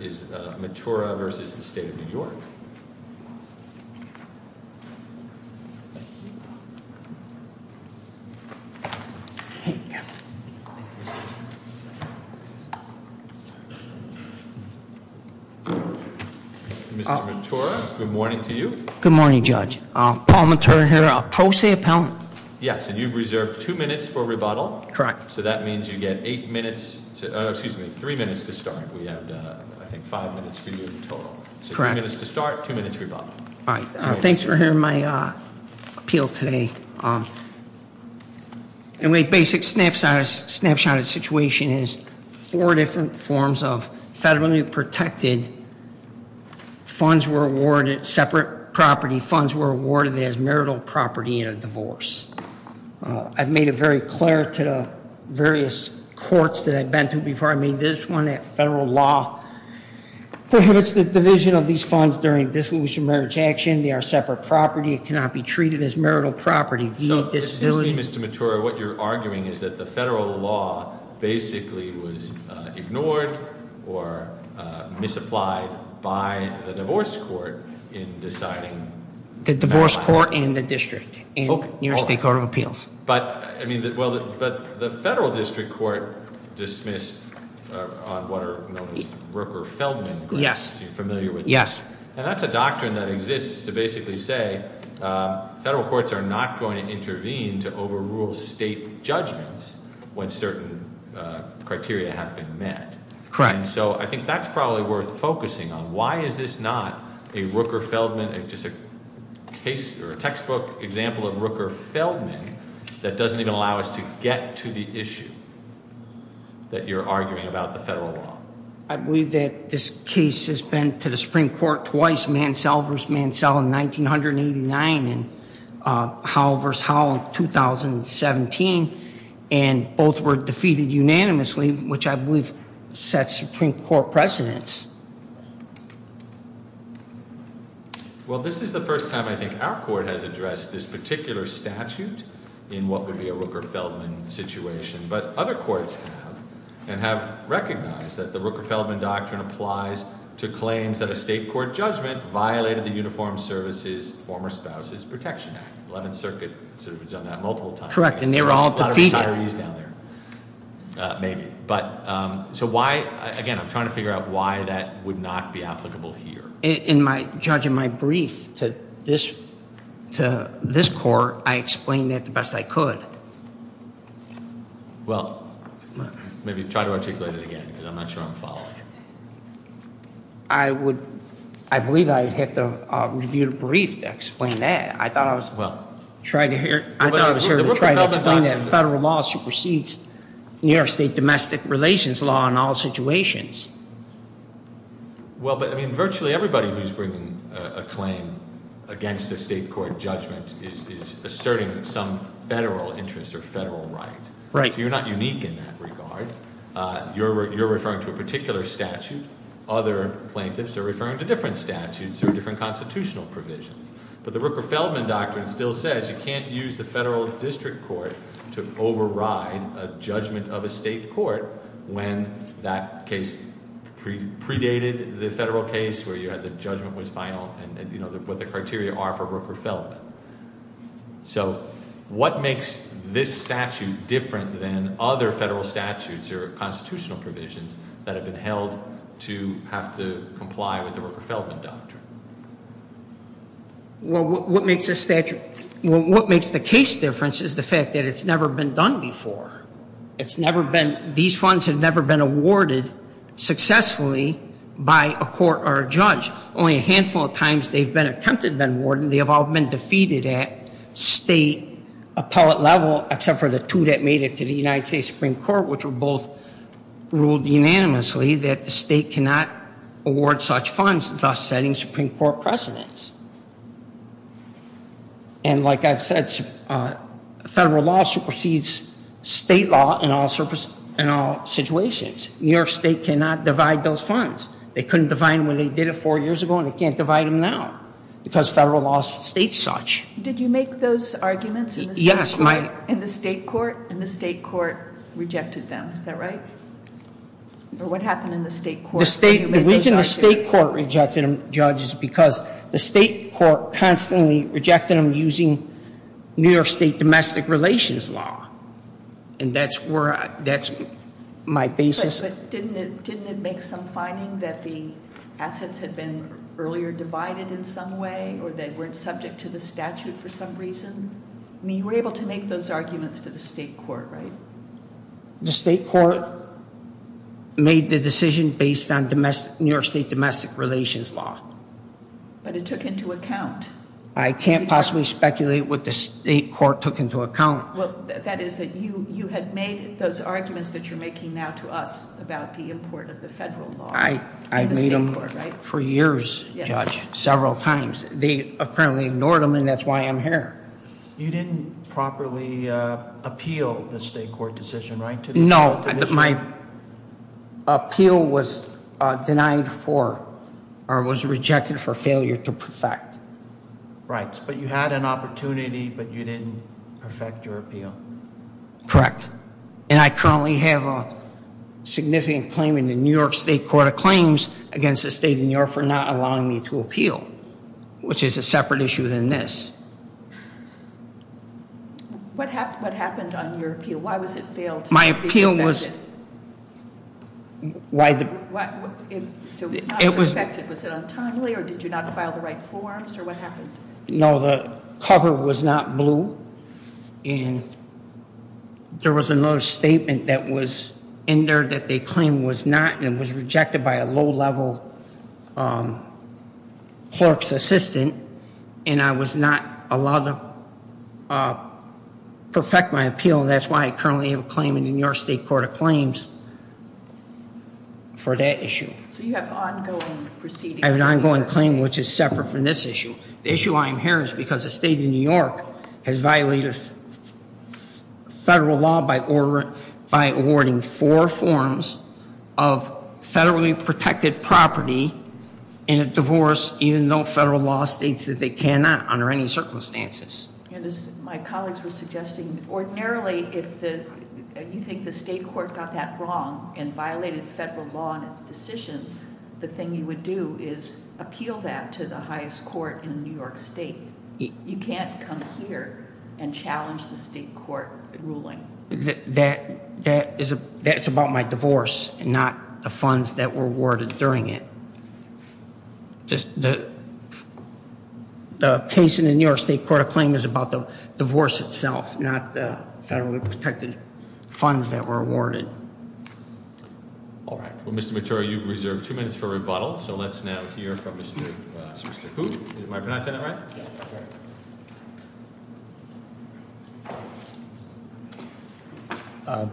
Mr. Matura, good morning to you. Good morning, Judge. Paul Matura here. I'll post the appellant. Yes, and you've reserved two minutes for rebuttal. Correct. So that means you get eight minutes, excuse me, three minutes to start. We have, I think, five minutes for you in total. Correct. So three minutes to start, two minutes rebuttal. Thanks for hearing my appeal today. My basic snapshot of the situation is four different forms of federally protected funds were awarded, separate property funds were awarded as marital property in a divorce. I've made it very clear to the various courts that I've been to before I made this one, that federal law prohibits the division of these funds during disillusioned marriage action. They are separate property. It cannot be treated as marital property. Excuse me, Mr. Matura, what you're arguing is that the federal law basically was ignored or misapplied by the divorce court in deciding. The divorce court in the district in New York State Court of Appeals. But the federal district court dismissed on what are known as Rooker-Feldman. Yes. If you're familiar with that. Yes. And that's a doctrine that exists to basically say federal courts are not going to intervene to overrule state judgments when certain criteria have been met. Correct. And so I think that's probably worth focusing on. Why is this not a Rooker-Feldman, just a case or a textbook example of Rooker-Feldman that doesn't even allow us to get to the issue that you're arguing about the federal law? I believe that this case has been to the Supreme Court twice, Mansell v. Mansell in 1989 and Howell v. Howell in 2017. And both were defeated unanimously, which I believe sets Supreme Court precedents. Well, this is the first time I think our court has addressed this particular statute in what would be a Rooker-Feldman situation. But other courts have and have recognized that the Rooker-Feldman doctrine applies to claims that a state court judgment violated the Uniformed Services Former Spouses Protection Act. Eleventh Circuit sort of has done that multiple times. Correct. And they were all defeated. Maybe. But so why – again, I'm trying to figure out why that would not be applicable here. In my – judging my brief to this court, I explained that the best I could. Well, maybe try to articulate it again because I'm not sure I'm following it. I would – I believe I would have to review the brief to explain that. I thought I was trying to hear – I thought I was trying to explain that federal law supersedes New York State domestic relations law in all situations. Well, but, I mean, virtually everybody who's bringing a claim against a state court judgment is asserting some federal interest or federal right. Right. So you're not unique in that regard. You're referring to a particular statute. Other plaintiffs are referring to different statutes or different constitutional provisions. But the Rooker-Feldman Doctrine still says you can't use the federal district court to override a judgment of a state court when that case predated the federal case where you had the judgment was final and, you know, what the criteria are for Rooker-Feldman. So what makes this statute different than other federal statutes or constitutional provisions that have been held to have to comply with the Rooker-Feldman Doctrine? Well, what makes this statute – well, what makes the case different is the fact that it's never been done before. It's never been – these funds have never been awarded successfully by a court or a judge. Only a handful of times they've been attempted and been awarded, and they have all been defeated at state appellate level, except for the two that made it to the United States Supreme Court, which were both ruled unanimously that the state cannot award such funds, thus setting Supreme Court precedents. And like I've said, federal law supersedes state law in all situations. New York State cannot divide those funds. They couldn't divide them when they did it four years ago, and they can't divide them now because federal law states such. Did you make those arguments in the state court? Yes. In the state court, and the state court rejected them. Is that right? Or what happened in the state court when you made those arguments? The reason the state court rejected them, Judge, is because the state court constantly rejected them using New York State domestic relations law. And that's where – that's my basis. But didn't it make some finding that the assets had been earlier divided in some way, or they weren't subject to the statute for some reason? I mean, you were able to make those arguments to the state court, right? The state court made the decision based on New York State domestic relations law. But it took into account. I can't possibly speculate what the state court took into account. Well, that is that you had made those arguments that you're making now to us about the import of the federal law in the state court, right? I made them for years, Judge, several times. They apparently ignored them, and that's why I'm here. You didn't properly appeal the state court decision, right? No. My appeal was denied for or was rejected for failure to perfect. Right. But you had an opportunity, but you didn't perfect your appeal. Correct. And I currently have a significant claim in the New York State Court of Claims against the state of New York for not allowing me to appeal, which is a separate issue than this. What happened on your appeal? Why was it failed to be perfected? My appeal was – So it was not perfected. Was it untimely, or did you not file the right forms, or what happened? No, the cover was not blue, and there was another statement that was in there that they claimed was not, and it was rejected by a low-level clerk's assistant, and I was not allowed to perfect my appeal, and that's why I currently have a claim in the New York State Court of Claims for that issue. So you have ongoing proceedings. I have an ongoing claim, which is separate from this issue. The issue I am hearing is because the state of New York has violated federal law by awarding four forms of federally protected property in a divorce, even though federal law states that they cannot under any circumstances. My colleagues were suggesting ordinarily if you think the state court got that wrong and violated federal law in its decision, the thing you would do is appeal that to the highest court in New York State. You can't come here and challenge the state court ruling. That is about my divorce and not the funds that were awarded during it. The case in the New York State Court of Claims is about the divorce itself, not the federally protected funds that were awarded. All right. Well, Mr. Matura, you've reserved two minutes for rebuttal, so let's now hear from Mr. Hu. Am I pronouncing that right? Yes, that's right.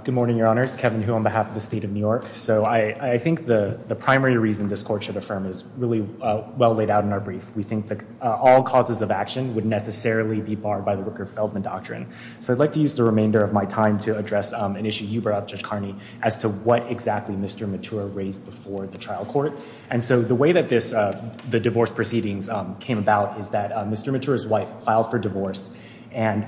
Good morning, Your Honors. Kevin Hu on behalf of the state of New York. So I think the primary reason this court should affirm is really well laid out in our brief. We think that all causes of action would necessarily be barred by the Wicker-Feldman Doctrine. So I'd like to use the remainder of my time to address an issue you brought up, Judge Carney, as to what exactly Mr. Matura raised before the trial court. And so the way that the divorce proceedings came about is that Mr. Matura's wife filed for divorce, and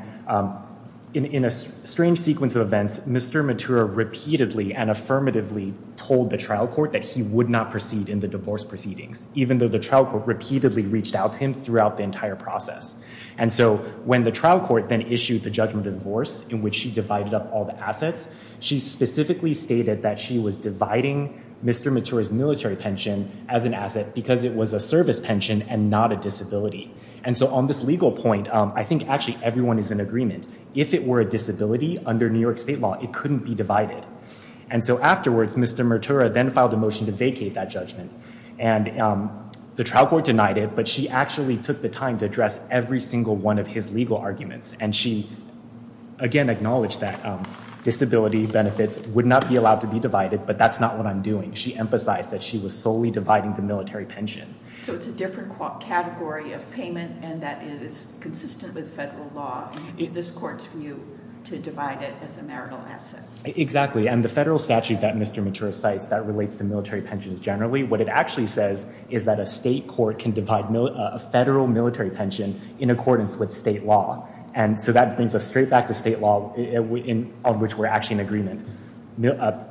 in a strange sequence of events, Mr. Matura repeatedly and affirmatively told the trial court that he would not proceed in the divorce proceedings, even though the trial court repeatedly reached out to him throughout the entire process. And so when the trial court then issued the judgment of divorce in which she divided up all the assets, she specifically stated that she was dividing Mr. Matura's military pension as an asset because it was a service pension and not a disability. And so on this legal point, I think actually everyone is in agreement. If it were a disability under New York state law, it couldn't be divided. And so afterwards, Mr. Matura then filed a motion to vacate that judgment. And the trial court denied it, but she actually took the time to address every single one of his legal arguments. And she, again, acknowledged that disability benefits would not be allowed to be divided, but that's not what I'm doing. She emphasized that she was solely dividing the military pension. So it's a different category of payment and that it is consistent with federal law. This court's view to divide it as a marital asset. Exactly. And the federal statute that Mr. Matura cites that relates to military pensions generally, what it actually says is that a state court can divide a federal military pension in accordance with state law. And so that brings us straight back to state law, of which we're actually in agreement.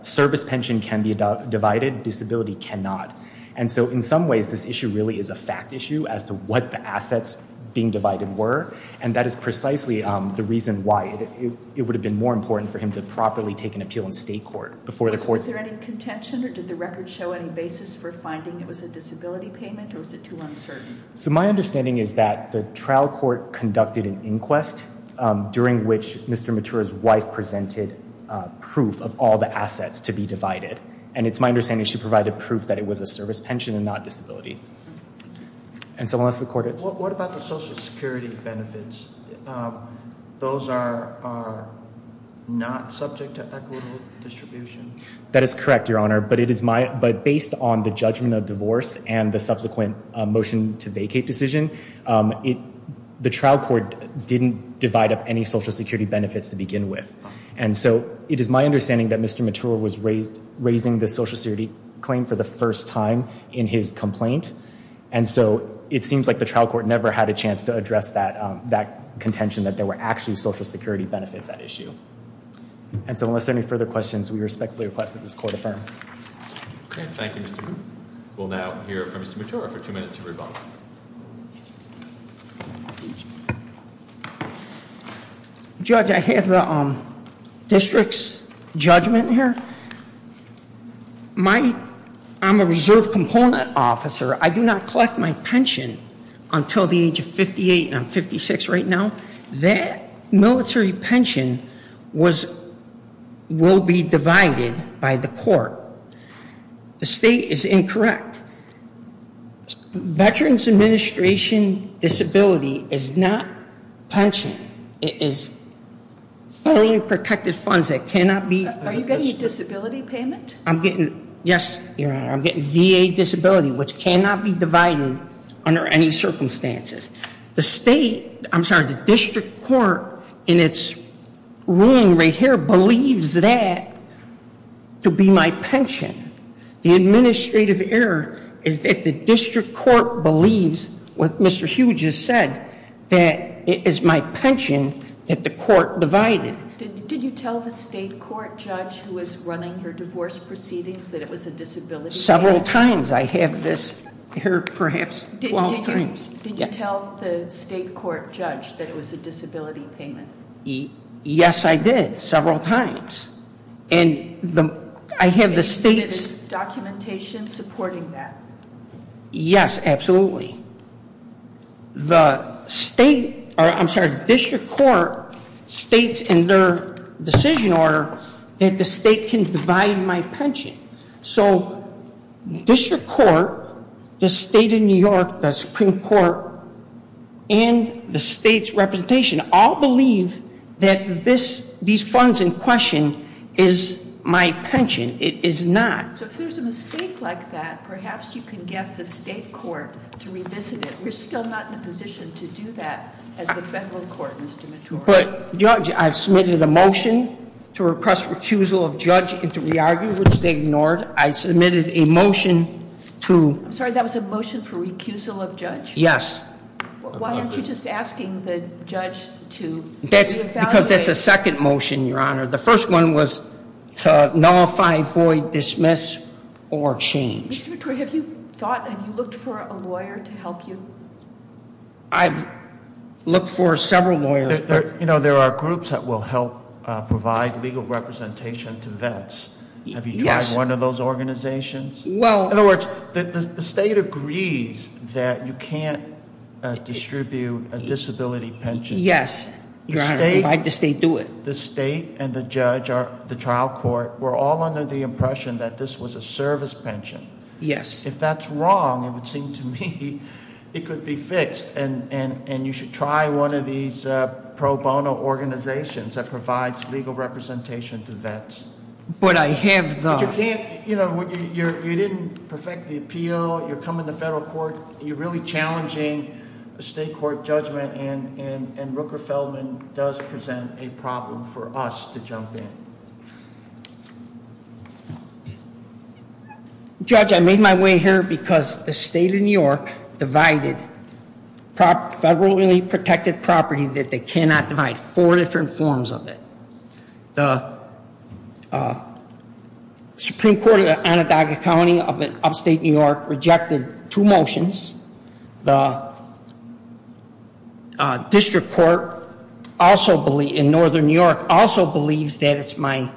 Service pension can be divided. Disability cannot. And so in some ways, this issue really is a fact issue as to what the assets being divided were. And that is precisely the reason why it would have been more important for him to properly take an appeal in state court. Was there any contention, or did the record show any basis for finding it was a disability payment, or was it too uncertain? So my understanding is that the trial court conducted an inquest, during which Mr. Matura's wife presented proof of all the assets to be divided. And it's my understanding she provided proof that it was a service pension and not disability. What about the Social Security benefits? Those are not subject to equitable distribution. That is correct, Your Honor. But based on the judgment of divorce and the subsequent motion to vacate decision, the trial court didn't divide up any Social Security benefits to begin with. And so it is my understanding that Mr. Matura was raising the Social Security claim for the first time in his complaint. And so it seems like the trial court never had a chance to address that contention, that there were actually Social Security benefits at issue. And so unless there are any further questions, we respectfully request that this court affirm. Okay. Thank you, Mr. Wu. We'll now hear from Mr. Matura for two minutes of rebuttal. Judge, I have the district's judgment here. I'm a reserve component officer. I do not collect my pension until the age of 58, and I'm 56 right now. That military pension will be divided by the court. The state is incorrect. Veterans Administration disability is not pension. It is federally protected funds that cannot be. Are you getting a disability payment? I'm getting, yes, Your Honor. I'm getting VA disability, which cannot be divided under any circumstances. The state, I'm sorry, the district court in its ruling right here believes that to be my pension. The administrative error is that the district court believes what Mr. Hu just said, that it is my pension that the court divided. Did you tell the state court judge who was running your divorce proceedings that it was a disability payment? Several times. I have this error perhaps 12 times. Did you tell the state court judge that it was a disability payment? Yes, I did, several times. And I have the state's- Is the documentation supporting that? Yes, absolutely. The state, or I'm sorry, the district court states in their decision order that the state can divide my pension. So district court, the state of New York, the Supreme Court, and the state's representation all believe that these funds in question is my pension. It is not. So if there's a mistake like that, perhaps you can get the state court to revisit it. We're still not in a position to do that as the federal court, Mr. Matoro. But, Judge, I've submitted a motion to repress recusal of judge and to re-argue, which they ignored. I submitted a motion to- I'm sorry, that was a motion for recusal of judge? Yes. Why aren't you just asking the judge to- Because that's a second motion, Your Honor. The first one was to nullify, void, dismiss, or change. Mr. Vittori, have you thought, have you looked for a lawyer to help you? I've looked for several lawyers. There are groups that will help provide legal representation to vets. Have you tried one of those organizations? Well- In other words, the state agrees that you can't distribute a disability pension. Yes, Your Honor. The state- The state do it. The state and the judge, the trial court, were all under the impression that this was a service pension. Yes. If that's wrong, it would seem to me it could be fixed. And you should try one of these pro bono organizations that provides legal representation to vets. But I have the- But you can't, you know, you didn't perfect the appeal. You're coming to federal court. You're really challenging the state court judgment. And Rooker Feldman does present a problem for us to jump in. Judge, I made my way here because the state of New York divided federally protected property that they cannot divide. Four different forms of it. The Supreme Court of Onondaga County of upstate New York rejected two motions. The district court in northern New York also believes that it's my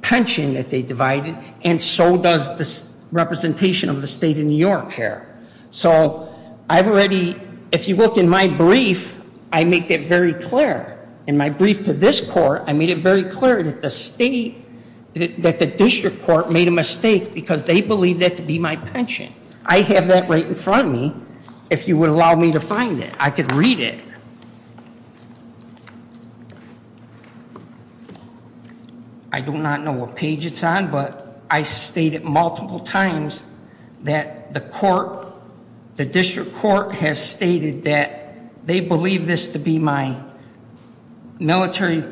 pension that they divided, and so does the representation of the state of New York here. So I've already- If you look in my brief, I make that very clear. In my brief to this court, I made it very clear that the state-that the district court made a mistake because they believe that to be my pension. I have that right in front of me, if you would allow me to find it. I could read it. I do not know what page it's on, but I stated multiple times that the court- the district court has stated that they believe this to be my military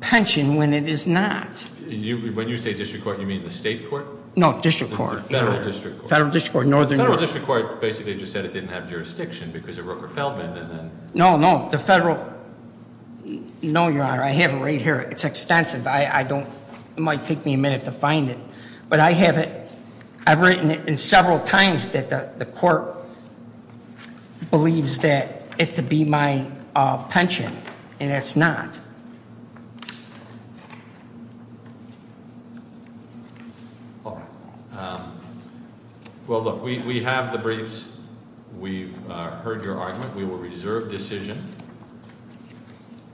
pension when it is not. When you say district court, you mean the state court? No, district court. Federal district court. Federal district court in northern New York. Federal district court basically just said it didn't have jurisdiction because of Rooker Feldman. No, no, the federal-no, Your Honor, I have it right here. It's extensive. I don't-it might take me a minute to find it. But I have it-I've written it several times that the court believes that it to be my pension, and it's not. All right. Well, look, we have the briefs. We've heard your argument. We will reserve decision.